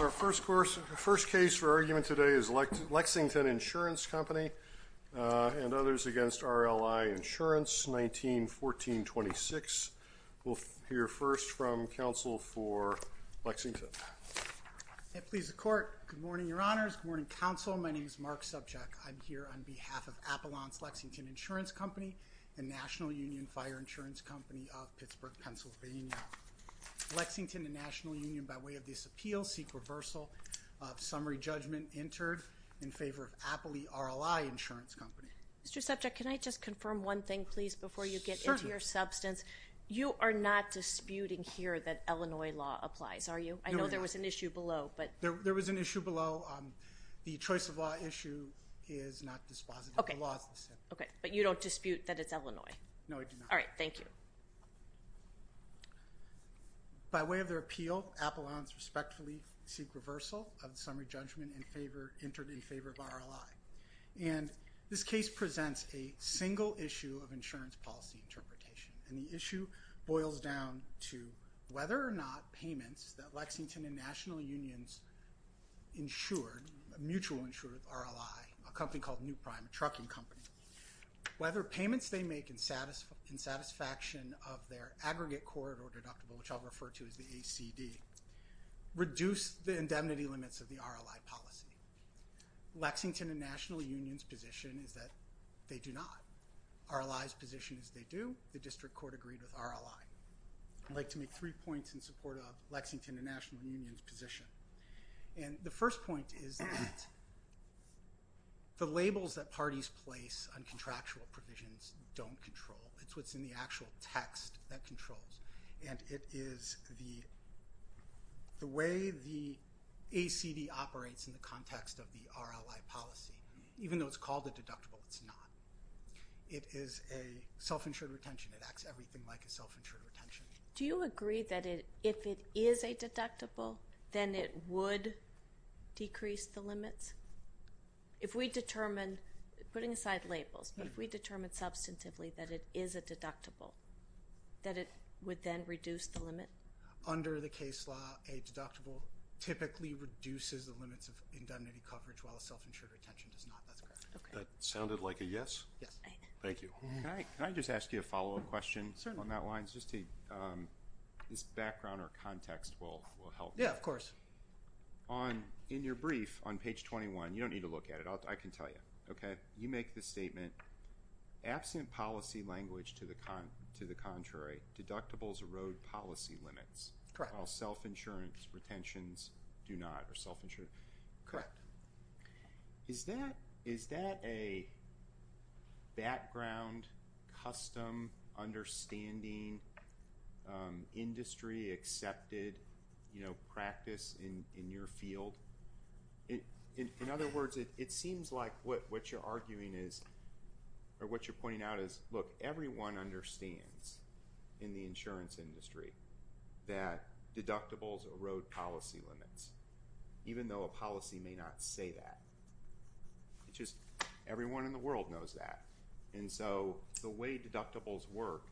Our first case for argument today is Lexington Insurance Company and others against RLI Insurance, 1914-26. We'll hear first from counsel for Lexington. It pleases the court. Good morning, Your Honors. Good morning, counsel. My name is Mark Subchak. I'm here on behalf of Appalachian Lexington Insurance Company and National Union Fire Insurance Company of Pittsburgh, Pennsylvania. Lexington and National Union, by way of this appeal, seek reversal of summary judgment entered in favor of Appalachian RLI Insurance Company. Mr. Subchak, can I just confirm one thing, please, before you get into your substance? You are not disputing here that Illinois law applies, are you? No, we're not. I know there was an issue below. There was an issue below. The choice of law issue is not dispositive. The law is dispositive. Okay, but you don't dispute that it's Illinois? No, I do not. All right. Thank you. By way of their appeal, Appalachians respectfully seek reversal of the summary judgment entered in favor of RLI. And this case presents a single issue of insurance policy interpretation. And the issue boils down to whether or not payments that Lexington and National Union's mutual insured RLI, a company called New Prime, a trucking company, whether payments they make in satisfaction of their aggregate court or deductible, which I'll refer to as the ACD, reduce the indemnity limits of the RLI policy. Lexington and National Union's position is that they do not. RLI's position is they do. The district court agreed with RLI. I'd like to make three points in support of Lexington and National Union's position. And the first point is that the labels that parties place on contractual provisions don't control. It's what's in the actual text that controls. And it is the way the ACD operates in the context of the RLI policy. Even though it's called a deductible, it's not. It is a self-insured retention. It acts everything like a self-insured retention. Do you agree that if it is a deductible, then it would decrease the limits? If we determine, putting aside labels, but if we determine substantively that it is a deductible, that it would then reduce the limit? Under the case law, a deductible typically reduces the limits of indemnity coverage, while a self-insured retention does not. That's correct. That sounded like a yes. Yes. Thank you. Can I just ask you a follow-up question? Certainly. This background or context will help. Yeah, of course. In your brief on page 21, you don't need to look at it. I can tell you. You make the statement, absent policy language to the contrary, deductibles erode policy limits. Correct. While self-insurance retentions do not. Correct. Is that a background, custom, understanding, industry-accepted practice in your field? In other words, it seems like what you're arguing is, or what you're pointing out is, look, everyone understands in the insurance industry that deductibles erode policy limits, even though a policy may not say that. It's just everyone in the world knows that. And so the way deductibles work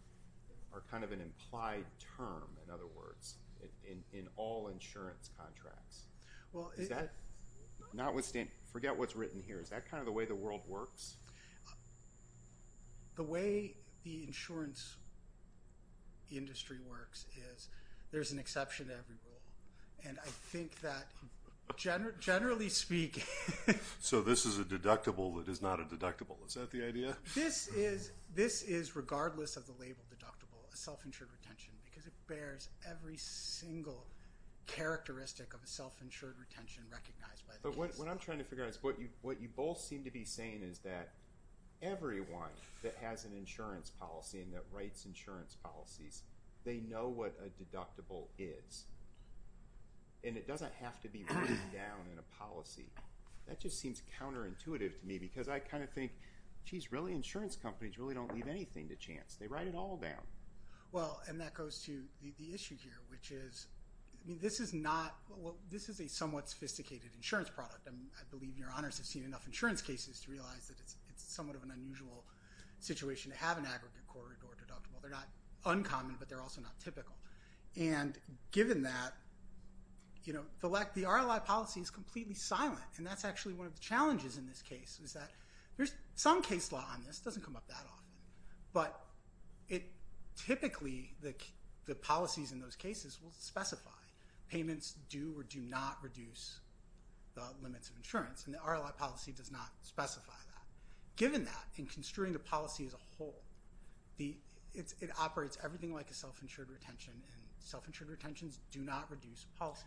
are kind of an implied term, in other words, in all insurance contracts. Well, it— Forget what's written here. Is that kind of the way the world works? The way the insurance industry works is there's an exception to every rule. And I think that generally speaking— So this is a deductible that is not a deductible. Is that the idea? This is, regardless of the label deductible, a self-insured retention because it bears every single characteristic of a self-insured retention recognized by the case. But what I'm trying to figure out is what you both seem to be saying is that everyone that has an insurance policy and that writes insurance policies, they know what a deductible is. And it doesn't have to be written down in a policy. That just seems counterintuitive to me because I kind of think, geez, really insurance companies really don't leave anything to chance. They write it all down. Well, and that goes to the issue here, which is, I mean, this is not— this is a somewhat sophisticated insurance product. I mean, I believe your honors have seen enough insurance cases to realize that it's somewhat of an unusual situation to have an aggregate corridor deductible. They're not uncommon, but they're also not typical. And given that, you know, the RLI policy is completely silent, and that's actually one of the challenges in this case, is that there's some case law on this. It doesn't come up that often. But typically the policies in those cases will specify payments do or do not reduce the limits of insurance, and the RLI policy does not specify that. It operates everything like a self-insured retention, and self-insured retentions do not reduce policy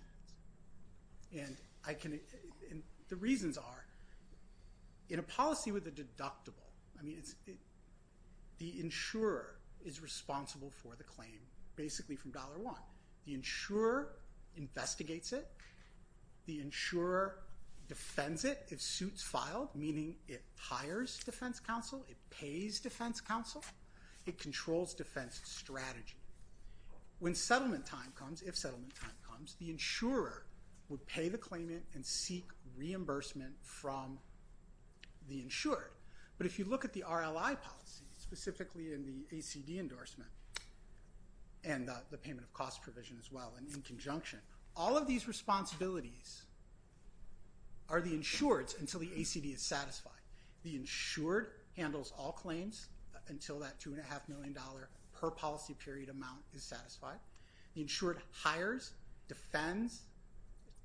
limits. And the reasons are, in a policy with a deductible, I mean, the insurer is responsible for the claim, basically from dollar one. The insurer investigates it. The insurer defends it if suits filed, meaning it hires defense counsel, it pays defense counsel, it controls defense strategy. When settlement time comes, if settlement time comes, the insurer would pay the claimant and seek reimbursement from the insured. But if you look at the RLI policy, specifically in the ACD endorsement and the payment of cost provision as well, and in conjunction, all of these responsibilities are the insured's until the ACD is satisfied. The insured handles all claims until that $2.5 million per policy period amount is satisfied. The insured hires, defends,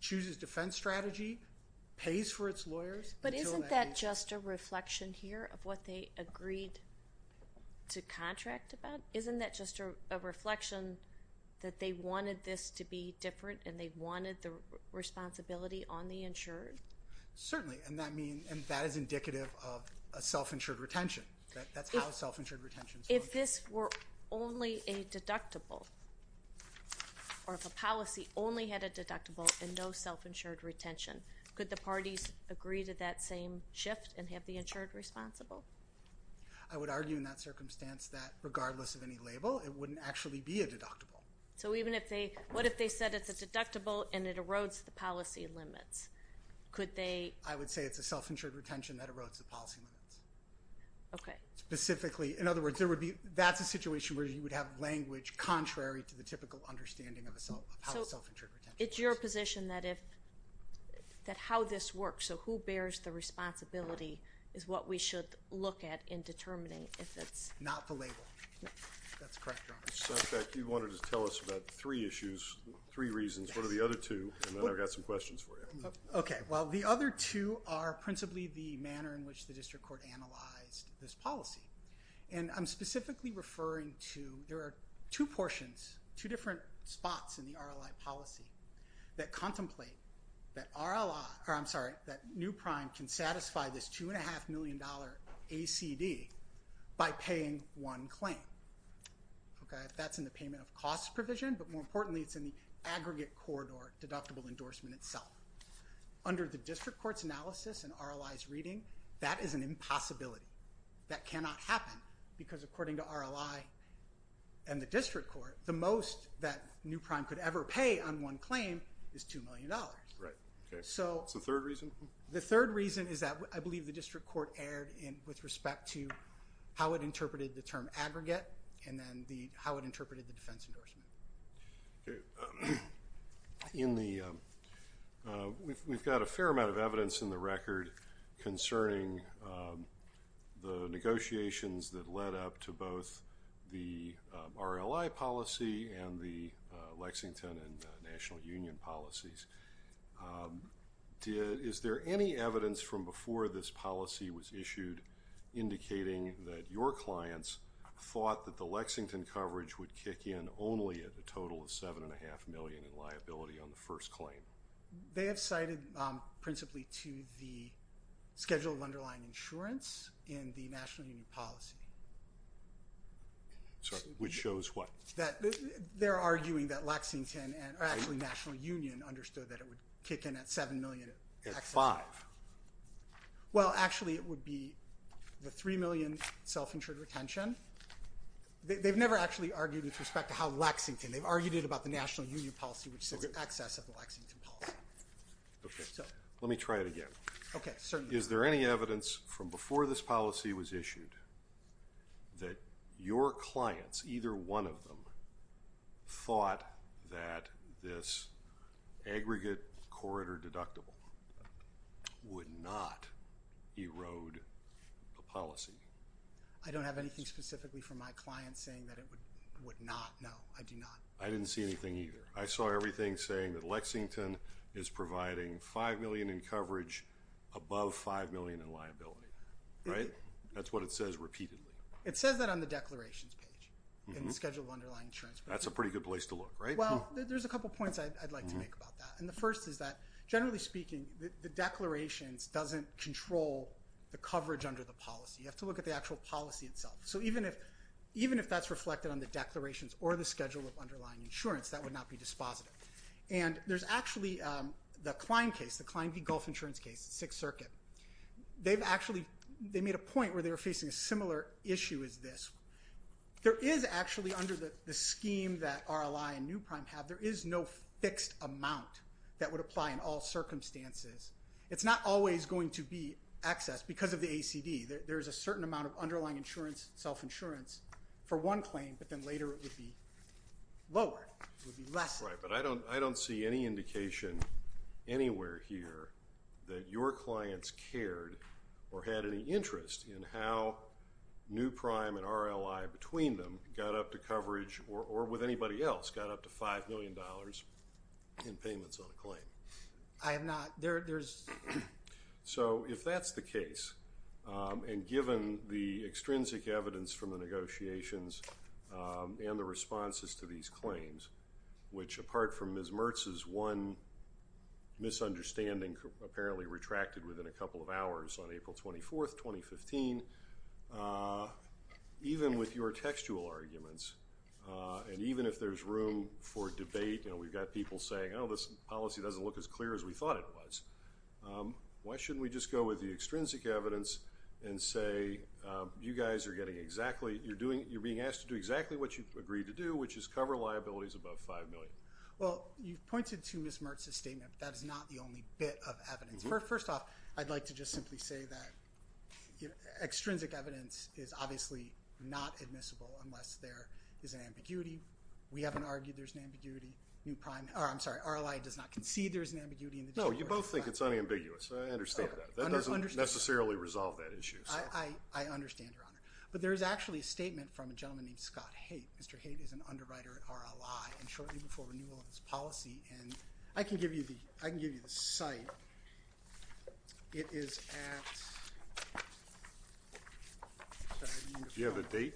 chooses defense strategy, pays for its lawyers. But isn't that just a reflection here of what they agreed to contract about? Isn't that just a reflection that they wanted this to be different and they wanted the responsibility on the insured? Certainly, and that is indicative of a self-insured retention. That's how self-insured retentions work. If this were only a deductible, or if a policy only had a deductible and no self-insured retention, could the parties agree to that same shift and have the insured responsible? I would argue in that circumstance that regardless of any label, it wouldn't actually be a deductible. So even if they, what if they said it's a deductible and it erodes the policy limits? Could they? I would say it's a self-insured retention that erodes the policy limits. Okay. Specifically, in other words, there would be, that's a situation where you would have language contrary to the typical understanding of how a self-insured retention works. It's your position that if, that how this works, so who bears the responsibility is what we should look at and determine if it's... Not the label. No. That's correct, Your Honor. So in fact, you wanted to tell us about three issues, three reasons. What are the other two? And then I've got some questions for you. Okay. Well, the other two are principally the manner in which the district court analyzed this policy. And I'm specifically referring to, there are two portions, two different spots in the RLI policy that contemplate that RLI, or I'm sorry, that new prime can satisfy this $2.5 million ACD by paying one claim. Okay. That's in the payment of cost provision, but more importantly, it's in the aggregate court or deductible endorsement itself. Under the district court's analysis and RLI's reading, that is an impossibility. That cannot happen because according to RLI and the district court, the most that new prime could ever pay on one claim is $2 million. Right. Okay. That's the third reason? The third reason is that I believe the district court erred with respect to how it interpreted the term aggregate and then how it interpreted the defense endorsement. Okay. We've got a fair amount of evidence in the record concerning the negotiations that led up to both the RLI policy and the Lexington and National Union policies. Is there any evidence from before this policy was issued indicating that your clients thought that the Lexington coverage would kick in only at a total of $7.5 million in liability on the first claim? They have cited principally to the schedule of underlying insurance in the National Union policy. Sorry, which shows what? They're arguing that Lexington and actually National Union understood that it would kick in at $7 million. At five. Well, actually it would be the $3 million self-insured retention. They've never actually argued with respect to how Lexington, they've argued it about the National Union policy which says excess of the Lexington policy. Okay. Let me try it again. Okay. Certainly. Is there any evidence from before this policy was issued that your clients, either one of them, thought that this aggregate corridor deductible would not erode the policy? I don't have anything specifically from my clients saying that it would not. No, I do not. I didn't see anything either. I saw everything saying that Lexington is providing $5 million in coverage above $5 million in liability. Right? That's what it says repeatedly. It says that on the declarations page in the schedule of underlying insurance. That's a pretty good place to look, right? Well, there's a couple points I'd like to make about that. And the first is that, generally speaking, the declarations doesn't control the coverage under the policy. You have to look at the actual policy itself. So even if that's reflected on the declarations or the schedule of underlying insurance, that would not be dispositive. And there's actually the Klein case, the Klein v. Gulf Insurance case, Sixth Circuit. They've actually made a point where they were facing a similar issue as this. There is actually under the scheme that RLI and New Prime have, there is no fixed amount that would apply in all circumstances. It's not always going to be excess because of the ACD. There is a certain amount of underlying insurance, self-insurance for one claim, but then later it would be lower. It would be less. Right. But I don't see any indication anywhere here that your clients cared or had any interest in how New Prime and RLI between them got up to coverage or with anybody else got up to $5 million in payments on a claim. I have not. So if that's the case, and given the extrinsic evidence from the negotiations and the responses to these claims, which apart from Ms. Mertz's one misunderstanding apparently retracted within a couple of hours on April 24, 2015, even with your textual arguments and even if there's room for debate, we've got people saying, oh, this policy doesn't look as clear as we thought it was. Why shouldn't we just go with the extrinsic evidence and say you guys are getting exactly, you're being asked to do exactly what you agreed to do, which is cover liabilities above $5 million? Well, you've pointed to Ms. Mertz's statement, but that is not the only bit of evidence. First off, I'd like to just simply say that extrinsic evidence is obviously not admissible unless there is an ambiguity. We haven't argued there's an ambiguity. I'm sorry, RLI does not concede there's an ambiguity. No, you both think it's unambiguous. I understand that. That doesn't necessarily resolve that issue. I understand, Your Honor. But there is actually a statement from a gentleman named Scott Haight. Mr. Haight is an underwriter at RLI, and shortly before renewal of his policy, and I can give you the site. It is at – Do you have a date?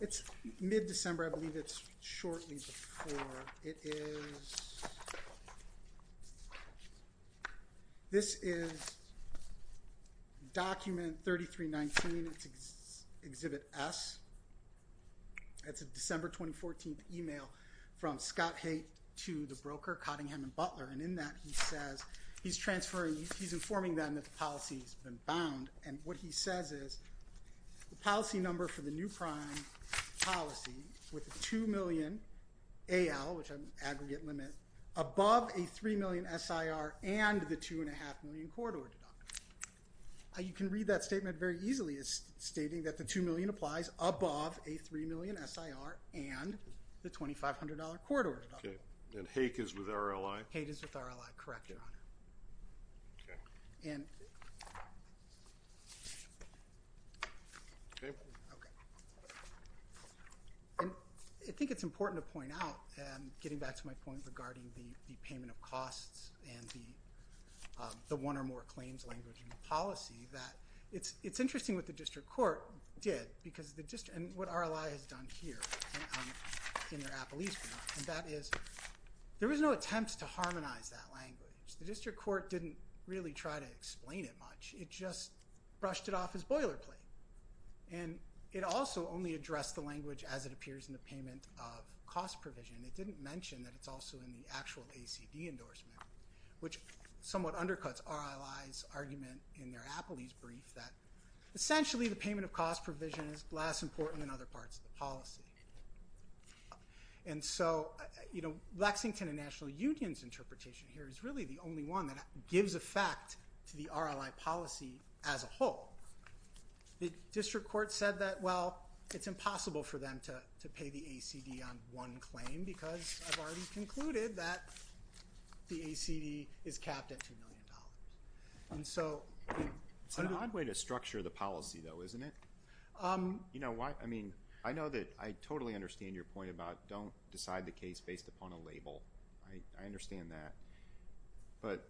It's mid-December. I believe it's shortly before. It is – this is document 3319, it's Exhibit S. It's a December 2014 email from Scott Haight to the broker, Cottingham & Butler, and in that he says he's transferring – he's informing them that the policy has been bound, and what he says is the policy number for the new prime policy with the $2 million AL, which is an aggregate limit, above a $3 million SIR and the $2.5 million corridor deductible. You can read that statement very easily as stating that the $2 million applies above a $3 million SIR and the $2,500 corridor deductible. And Haight is with RLI? Haight is with RLI, correct, Your Honor. Okay. And I think it's important to point out, getting back to my point regarding the payment of costs and the one or more claims language in the policy, that it's interesting what the district court did because the district – and what RLI has done here in their appellees' group, and that is there was no attempt to harmonize that language. The district court didn't really try to explain it much. It just brushed it off as boilerplate. And it also only addressed the language as it appears in the payment of cost provision. It didn't mention that it's also in the actual ACD endorsement, which somewhat undercuts RLI's argument in their appellees' brief that essentially the payment of cost provision is less important than other parts of the policy. And so, you know, Lexington and National Union's interpretation here is really the only one that gives effect to the RLI policy as a whole. The district court said that, well, it's impossible for them to pay the ACD on one claim because I've already concluded that the ACD is capped at $2 million. It's an odd way to structure the policy, though, isn't it? You know, I mean, I know that I totally understand your point about don't decide the case based upon a label. I understand that. But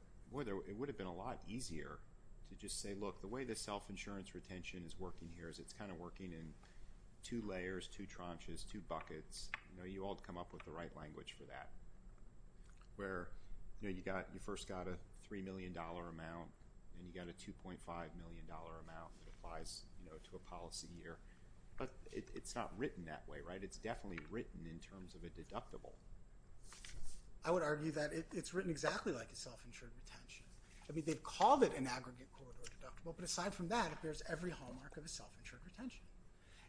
it would have been a lot easier to just say, look, the way the self-insurance retention is working here is it's kind of working in two layers, two tranches, two buckets. You know, you all come up with the right language for that, where, you know, you first got a $3 million amount and you got a $2.5 million amount that applies, you know, to a policy year. But it's not written that way, right? It's definitely written in terms of a deductible. I would argue that it's written exactly like a self-insured retention. I mean, they've called it an aggregate corridor deductible, but aside from that, it bears every hallmark of a self-insured retention.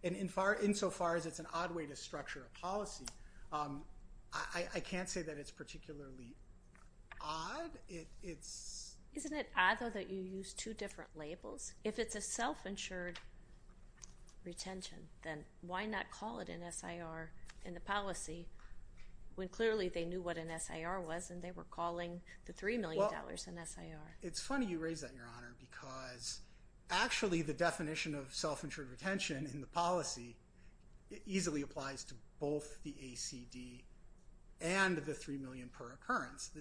And insofar as it's an odd way to structure a policy, I can't say that it's particularly odd. Isn't it odd, though, that you use two different labels? If it's a self-insured retention, then why not call it an SIR in the policy when clearly they knew what an SIR was and they were calling the $3 million an SIR? Well, it's funny you raise that, Your Honor, because actually the definition of self-insured retention in the policy easily applies to both the ACD and the $3 million per occurrence.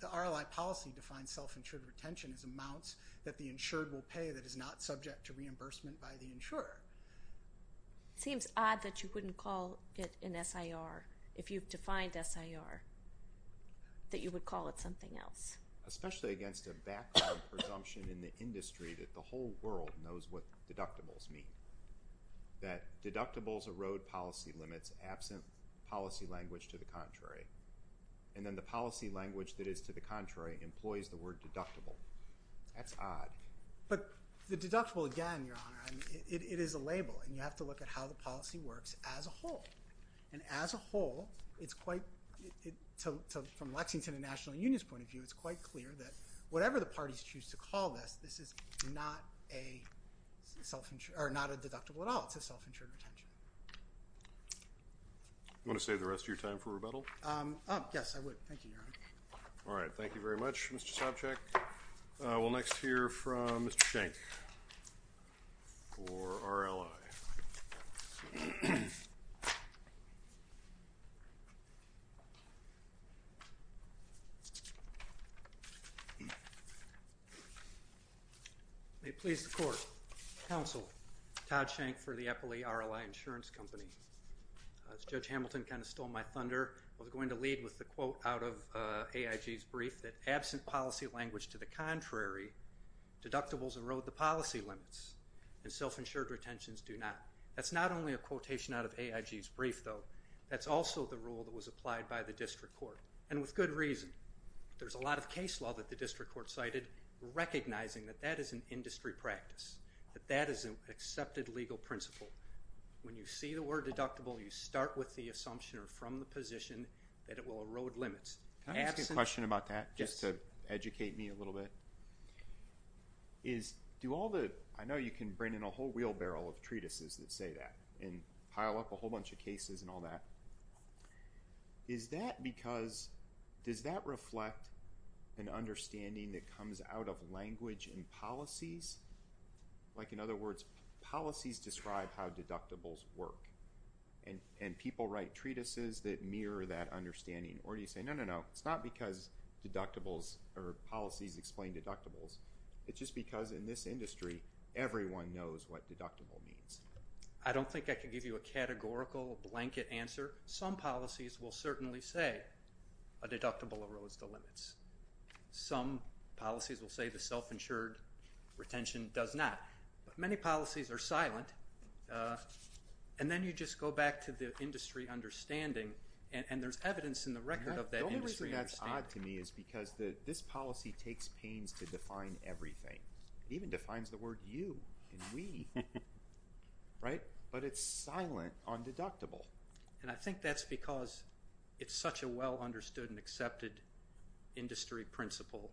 The RLI policy defines self-insured retention as amounts that the insured will pay that is not subject to reimbursement by the insurer. It seems odd that you wouldn't call it an SIR if you've defined SIR, that you would call it something else. Especially against a background presumption in the industry that the whole world knows what deductibles mean, that deductibles erode policy limits absent policy language to the contrary, and then the policy language that is to the contrary employs the word deductible. That's odd. But the deductible, again, Your Honor, it is a label, and you have to look at how the policy works as a whole. And as a whole, from Lexington and the National Union's point of view, it's quite clear that whatever the parties choose to call this, this is not a deductible at all. It's a self-insured retention. Want to save the rest of your time for rebuttal? Yes, I would. Thank you, Your Honor. All right. Thank you very much, Mr. Sopcich. We'll next hear from Mr. Schenck for RLI. May it please the Court. Counsel, Todd Schenck for the Eppley RLI Insurance Company. As Judge Hamilton kind of stole my thunder, I was going to lead with the quote out of AIG's brief, that absent policy language to the contrary, deductibles erode the policy limits, and self-insured retentions do not. That's not only a quotation out of AIG's brief, though. That's also the rule that was applied by the district court, and with good reason. There's a lot of case law that the district court cited recognizing that that is an industry practice, that that is an accepted legal principle. When you see the word deductible, you start with the assumption, or from the position, that it will erode limits. Can I ask a question about that, just to educate me a little bit? I know you can bring in a whole wheelbarrow of treatises that say that, and pile up a whole bunch of cases and all that. Is that because, does that reflect an understanding that comes out of language and policies? Like, in other words, policies describe how deductibles work, and people write treatises that mirror that understanding. Or do you say, no, no, no, it's not because deductibles or policies explain deductibles. It's just because in this industry, everyone knows what deductible means. I don't think I can give you a categorical blanket answer. Some policies will certainly say a deductible erodes the limits. Some policies will say the self-insured retention does not. But many policies are silent. And then you just go back to the industry understanding, and there's evidence in the record of that industry understanding. The only reason that's odd to me is because this policy takes pains to define everything. It even defines the word you and we, right? But it's silent on deductible. And I think that's because it's such a well-understood and accepted industry principle.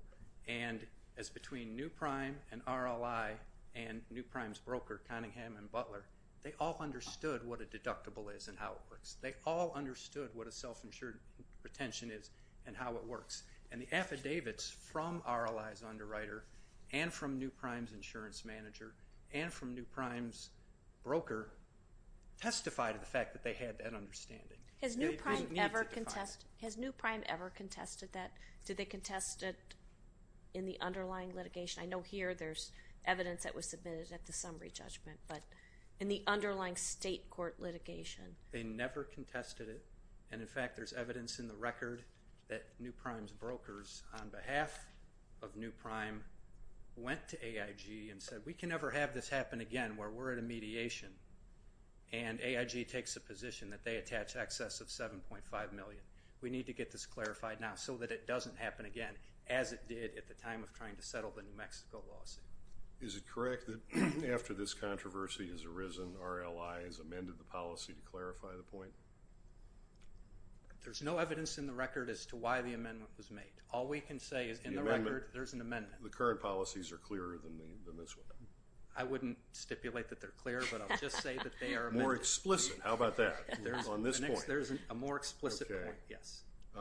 And as between NuPrime and RLI and NuPrime's broker, Cunningham and Butler, they all understood what a deductible is and how it works. They all understood what a self-insured retention is and how it works. And the affidavits from RLI's underwriter and from NuPrime's insurance manager and from NuPrime's broker testify to the fact that they had that understanding. Has NuPrime ever contested that? Did they contest it in the underlying litigation? I know here there's evidence that was submitted at the summary judgment, but in the underlying state court litigation? They never contested it. And, in fact, there's evidence in the record that NuPrime's brokers, on behalf of NuPrime, went to AIG and said we can never have this happen again where we're at a mediation and AIG takes a position that they attach excess of $7.5 million. We need to get this clarified now so that it doesn't happen again, as it did at the time of trying to settle the New Mexico lawsuit. Is it correct that after this controversy has arisen, RLI has amended the policy to clarify the point? There's no evidence in the record as to why the amendment was made. All we can say is in the record there's an amendment. The current policies are clearer than this one. I wouldn't stipulate that they're clear, but I'll just say that they are amended. More explicit. How about that? On this point. There's a more explicit point, yes. Okay.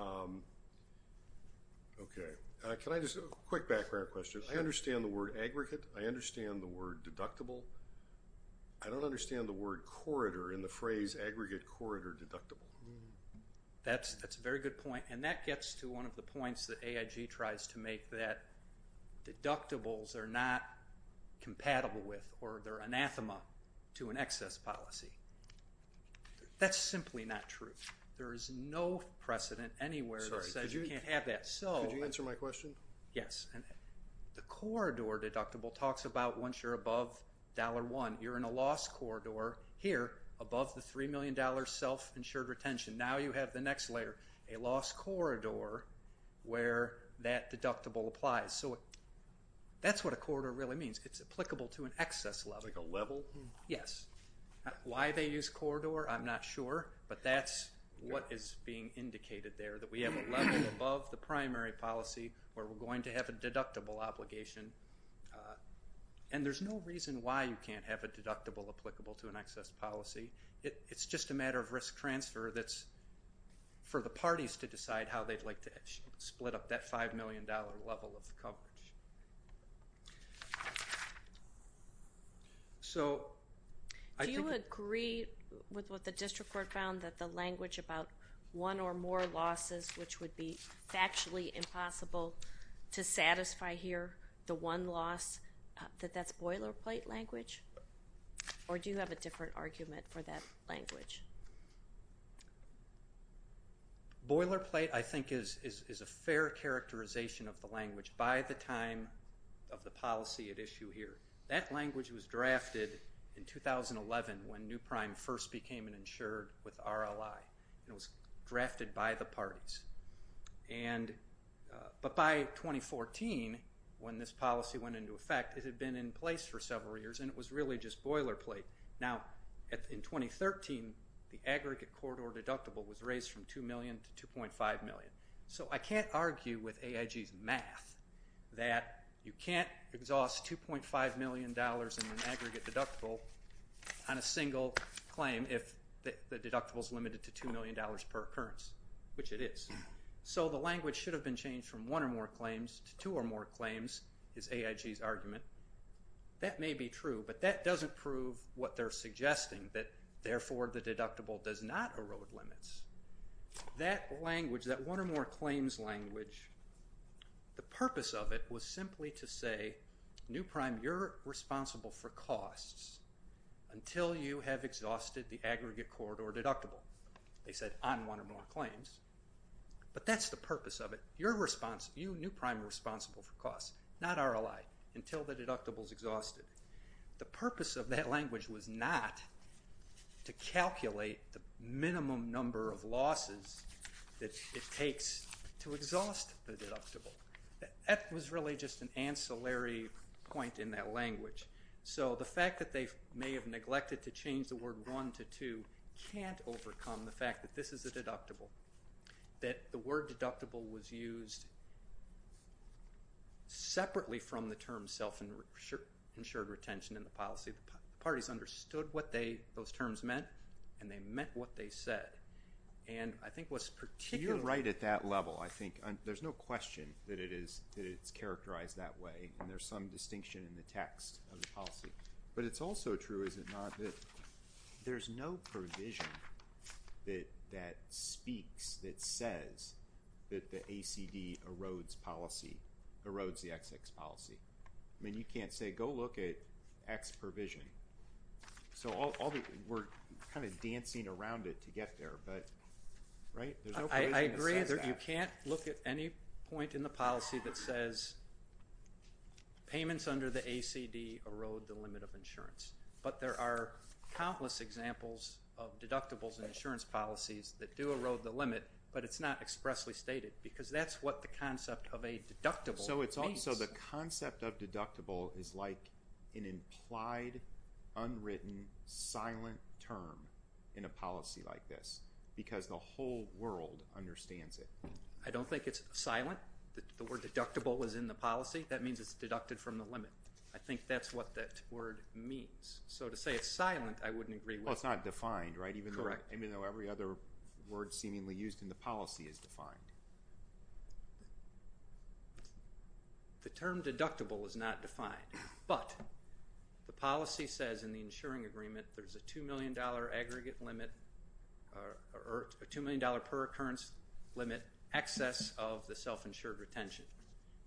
A quick background question. I understand the word aggregate. I understand the word deductible. I don't understand the word corridor in the phrase aggregate corridor deductible. That's a very good point, and that gets to one of the points that AIG tries to make, that deductibles are not compatible with or they're anathema to an excess policy. That's simply not true. There is no precedent anywhere that says you can't have that. Could you answer my question? Yes. The corridor deductible talks about once you're above $1, you're in a loss corridor here above the $3 million self-insured retention. Now you have the next layer, a loss corridor where that deductible applies. So that's what a corridor really means. It's applicable to an excess level. Like a level? Yes. Why they use corridor, I'm not sure, but that's what is being indicated there, that we have a level above the primary policy where we're going to have a deductible obligation. And there's no reason why you can't have a deductible applicable to an excess policy. It's just a matter of risk transfer that's for the parties to decide how they'd like to split up that $5 million level of coverage. Do you agree with what the district court found, that the language about one or more losses, which would be factually impossible to satisfy here, the one loss, that that's boilerplate language? Or do you have a different argument for that language? Boilerplate, I think, is a fair characterization of the language. By the time of the policy at issue here, that language was drafted in 2011 when New Prime first became an insured with RLI. It was drafted by the parties. But by 2014, when this policy went into effect, it had been in place for several years, and it was really just boilerplate. Now, in 2013, the aggregate corridor deductible was raised from $2 million to $2.5 million. So I can't argue with AIG's math that you can't exhaust $2.5 million in an aggregate deductible on a single claim if the deductible is limited to $2 million per occurrence, which it is. So the language should have been changed from one or more claims to two or more claims is AIG's argument. That may be true, but that doesn't prove what they're suggesting, that therefore the deductible does not erode limits. That language, that one or more claims language, the purpose of it was simply to say, New Prime, you're responsible for costs until you have exhausted the aggregate corridor deductible, they said, on one or more claims. But that's the purpose of it. You, New Prime, are responsible for costs, not RLI, until the deductible is exhausted. The purpose of that language was not to calculate the minimum number of losses that it takes to exhaust the deductible. That was really just an ancillary point in that language. So the fact that they may have neglected to change the word one to two can't overcome the fact that this is a deductible, that the word deductible was used separately from the term self-insured retention in the policy. The parties understood what those terms meant, and they meant what they said. You're right at that level, I think. There's no question that it's characterized that way, and there's some distinction in the text of the policy. But it's also true, is it not, that there's no provision that speaks, that says that the ACD erodes policy, erodes the XX policy. I mean, you can't say, go look at X provision. So we're kind of dancing around it to get there, but, right? I agree that you can't look at any point in the policy that says but there are countless examples of deductibles and insurance policies that do erode the limit, but it's not expressly stated, because that's what the concept of a deductible means. So the concept of deductible is like an implied, unwritten, silent term in a policy like this, because the whole world understands it. I don't think it's silent. The word deductible is in the policy. That means it's deducted from the limit. I think that's what that word means. So to say it's silent, I wouldn't agree with that. Well, it's not defined, right? Correct. Even though every other word seemingly used in the policy is defined. The term deductible is not defined, but the policy says in the insuring agreement there's a $2 million aggregate limit or a $2 million per occurrence limit excess of the self-insured retention,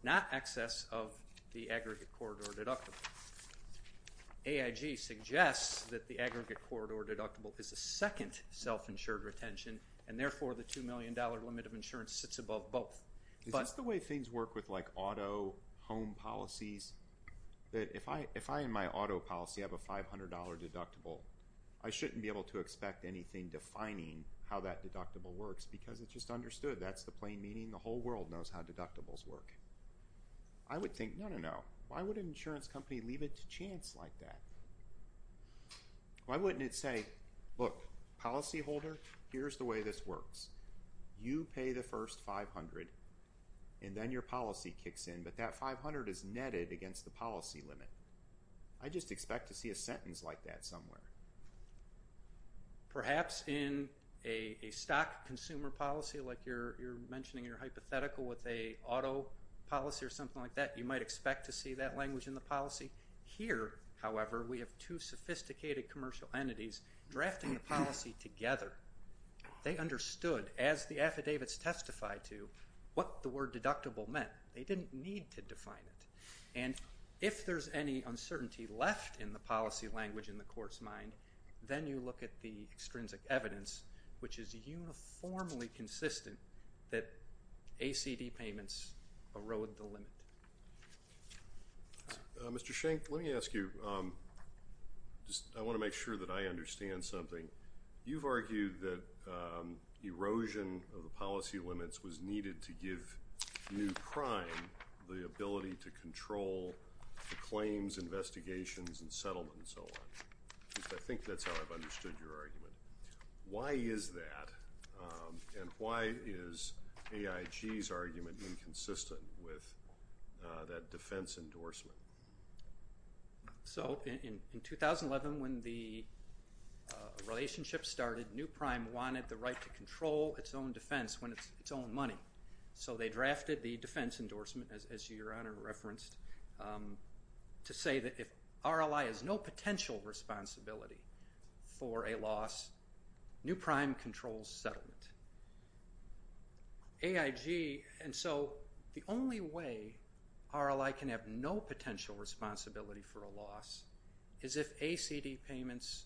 not excess of the aggregate corridor deductible. AIG suggests that the aggregate corridor deductible is a second self-insured retention, and therefore the $2 million limit of insurance sits above both. Is this the way things work with, like, auto home policies? If I in my auto policy have a $500 deductible, I shouldn't be able to expect anything defining how that deductible works, because it's just understood. That's the plain meaning. The whole world knows how deductibles work. I would think, no, no, no. Why would an insurance company leave it to chance like that? Why wouldn't it say, look, policyholder, here's the way this works. You pay the first $500, and then your policy kicks in, but that $500 is netted against the policy limit. I just expect to see a sentence like that somewhere. Perhaps in a stock consumer policy, like you're mentioning, your hypothetical with a auto policy or something like that, you might expect to see that language in the policy. Here, however, we have two sophisticated commercial entities drafting the policy together. They understood, as the affidavits testify to, what the word deductible meant. They didn't need to define it. And if there's any uncertainty left in the policy language in the court's mind, then you look at the extrinsic evidence, which is uniformly consistent that ACD payments erode the limit. Mr. Schenck, let me ask you. I want to make sure that I understand something. You've argued that erosion of the policy limits was needed to give new crime the ability to control the claims, investigations, and settlement, and so on. I think that's how I've understood your argument. Why is that, and why is AIG's argument inconsistent with that defense endorsement? In 2011, when the relationship started, new crime wanted the right to control its own defense when it's its own money. So they drafted the defense endorsement, as Your Honor referenced, to say that if RLI has no potential responsibility for a loss, new crime controls settlement. AIG, and so the only way RLI can have no potential responsibility for a loss is if ACD payments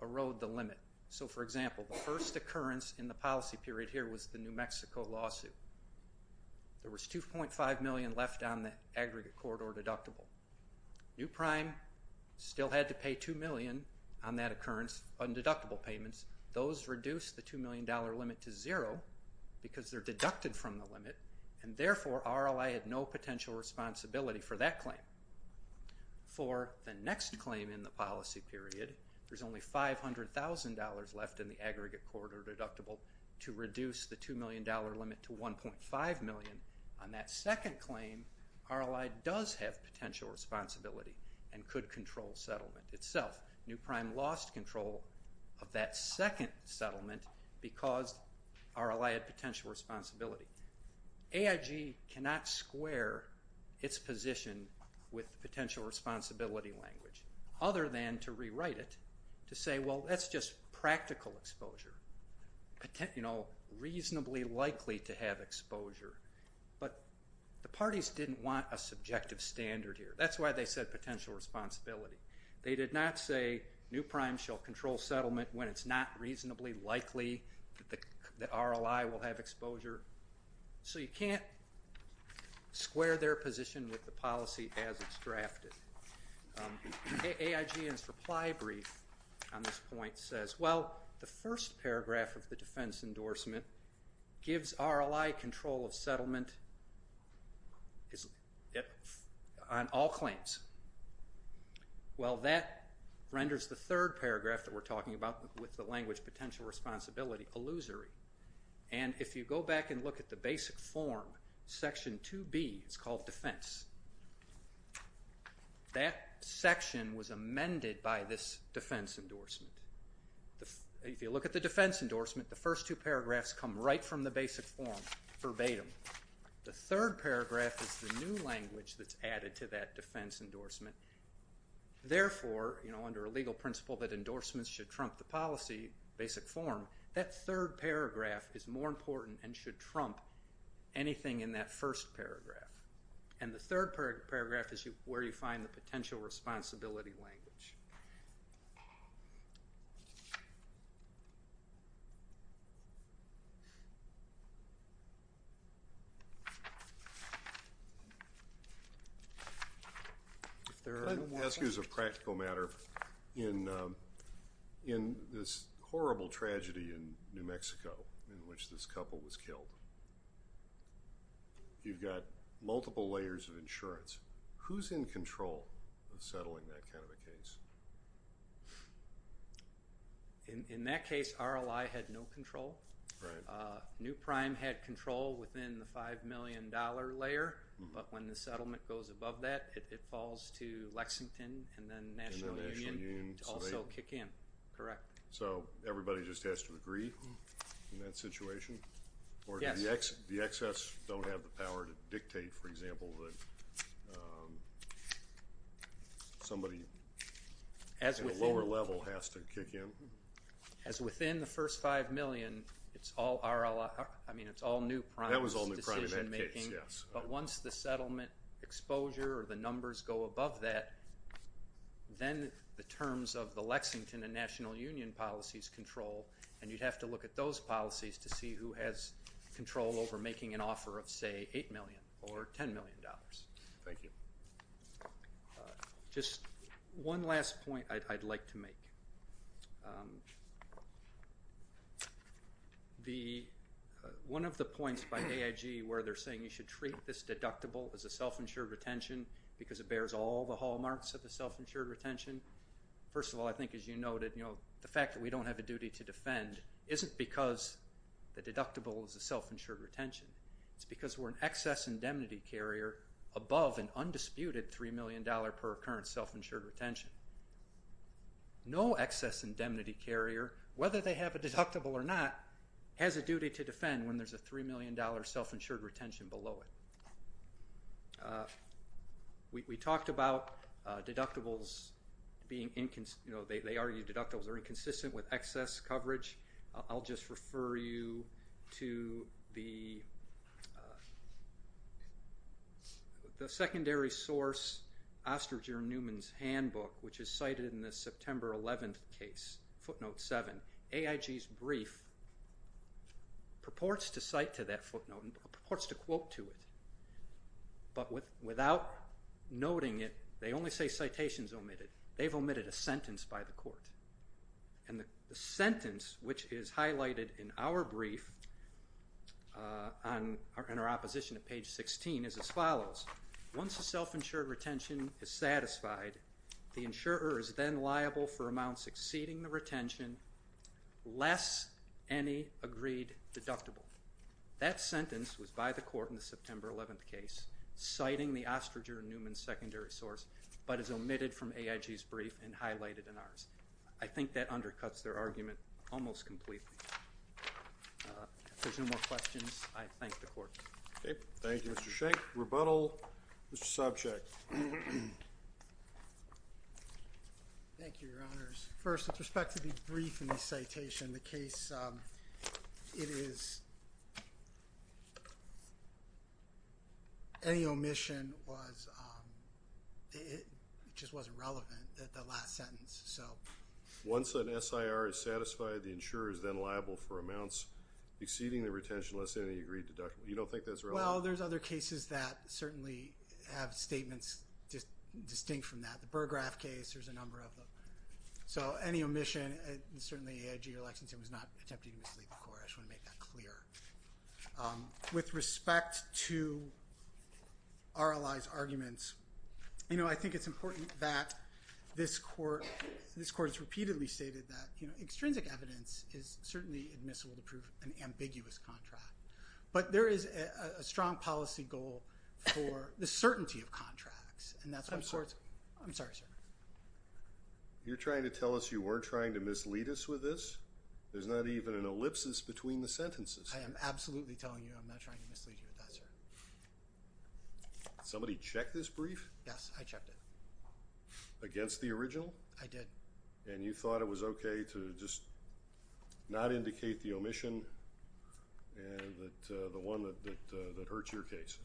erode the limit. So, for example, the first occurrence in the policy period here was the New Mexico lawsuit. There was $2.5 million left on the aggregate court or deductible. New crime still had to pay $2 million on that occurrence on deductible payments. Those reduced the $2 million limit to zero because they're deducted from the limit, and therefore RLI had no potential responsibility for that claim. For the next claim in the policy period, there's only $500,000 left in the aggregate court or deductible to reduce the $2 million limit to $1.5 million. On that second claim, RLI does have potential responsibility and could control settlement itself. New crime lost control of that second settlement because RLI had potential responsibility. AIG cannot square its position with potential responsibility language other than to rewrite it to say, well, that's just practical exposure, you know, reasonably likely to have exposure. But the parties didn't want a subjective standard here. That's why they said potential responsibility. They did not say new crime shall control settlement when it's not reasonably likely that RLI will have exposure. So you can't square their position with the policy as it's drafted. AIG's reply brief on this point says, well, the first paragraph of the defense endorsement gives RLI control of settlement on all claims. Well, that renders the third paragraph that we're talking about with the language potential responsibility illusory. And if you go back and look at the basic form, section 2B is called defense. That section was amended by this defense endorsement. If you look at the defense endorsement, the first two paragraphs come right from the basic form verbatim. The third paragraph is the new language that's added to that defense endorsement. Therefore, you know, under a legal principle that endorsements should trump the policy, basic form, that third paragraph is more important and should trump anything in that first paragraph. And the third paragraph is where you find the potential responsibility language. I'd like to ask you as a practical matter, in this horrible tragedy in New Mexico in which this couple was killed, you've got multiple layers of insurance. Who's in control of settling that kind of a case? In that case, RLI had no control. Right. New Prime had control within the $5 million layer, but when the settlement goes above that, it falls to Lexington and then National Union to also kick in, correct? So everybody just has to agree in that situation? Yes. Or the excess don't have the power to dictate, for example, that somebody at a lower level has to kick in? As within the first $5 million, it's all New Prime's decision making. That was all New Prime in that case, yes. But once the settlement exposure or the numbers go above that, then the terms of the Lexington and National Union policies control, and you'd have to look at those policies to see who has control over making an offer of, say, $8 million or $10 million. Thank you. Just one last point I'd like to make. One of the points by AIG where they're saying you should treat this deductible as a self-insured retention because it bears all the hallmarks of a self-insured retention, first of all, I think, as you noted, the fact that we don't have a duty to defend isn't because the deductible is a self-insured retention. It's because we're an excess indemnity carrier above an undisputed $3 million per current self-insured retention. No excess indemnity carrier, whether they have a deductible or not, has a duty to defend when there's a $3 million self-insured retention below it. We talked about deductibles being inconsistent. They argue deductibles are inconsistent with excess coverage. I'll just refer you to the secondary source, Ostringer Newman's handbook, which is cited in the September 11th case, footnote 7. AIG's brief purports to cite to that footnote and purports to quote to it, but without noting it they only say citations omitted. They've omitted a sentence by the court. And the sentence which is highlighted in our brief in our opposition at page 16 is as follows. The insurer is then liable for amounts exceeding the retention, less any agreed deductible. That sentence was by the court in the September 11th case, citing the Ostringer Newman secondary source, but is omitted from AIG's brief and highlighted in ours. I think that undercuts their argument almost completely. If there's no more questions, I thank the court. Okay, thank you, Mr. Schenck. Rebuttal, Mr. Sobczak. Thank you, Your Honors. First, with respect to the brief and the citation, the case, it is, any omission was, it just wasn't relevant at the last sentence, so. Once an SIR is satisfied, the insurer is then liable for amounts exceeding the retention, less any agreed deductible. You don't think that's relevant? Well, there's other cases that certainly have statements distinct from that. The Burggraf case, there's a number of them. So any omission, certainly AIG or Lexington was not attempting to mislead the court. I just want to make that clear. With respect to our allies' arguments, you know, I think it's important that this court, this court has repeatedly stated that, you know, extrinsic evidence is certainly admissible to prove an ambiguous contract. But there is a strong policy goal for the certainty of contracts. I'm sorry, sir. You're trying to tell us you weren't trying to mislead us with this? There's not even an ellipsis between the sentences. I am absolutely telling you I'm not trying to mislead you with that, sir. Somebody check this brief? Yes, I checked it. Against the original? I did. And you thought it was okay to just not indicate the omission and the one that hurts your case?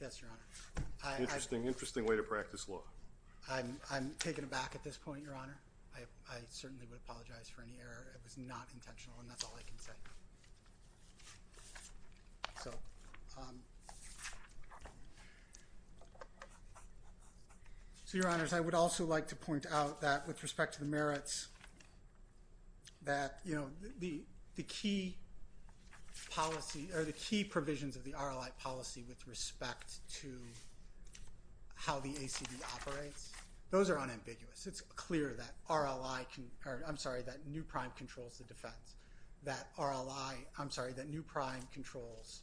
Yes, Your Honor. Interesting way to practice law. I'm taken aback at this point, Your Honor. I certainly would apologize for any error. It was not intentional, and that's all I can say. So, Your Honors, I would also like to point out that with respect to the merits that, you know, the key policy or the key provisions of the RLI policy with respect to how the ACB operates, those are unambiguous. It's clear that RLI can or, I'm sorry, that New Prime controls the defense, that RLI, I'm sorry, that New Prime controls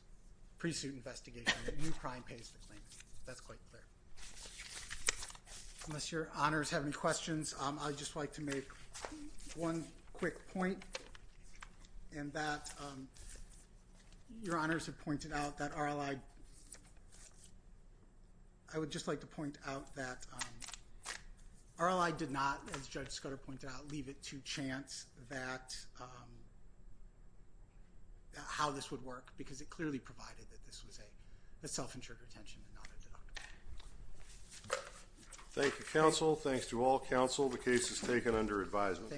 pre-suit investigation, that New Prime pays the claims. That's quite clear. Unless Your Honors have any questions, I would just like to make one quick point, and that Your Honors have pointed out that RLI, I would just like to point out that RLI did not, as Judge Scudder pointed out, leave it to chance that, how this would work, because it clearly provided that this was a self-insured retention and not a deductible. Thank you, counsel. Thanks to all counsel. The case is taken under advisement.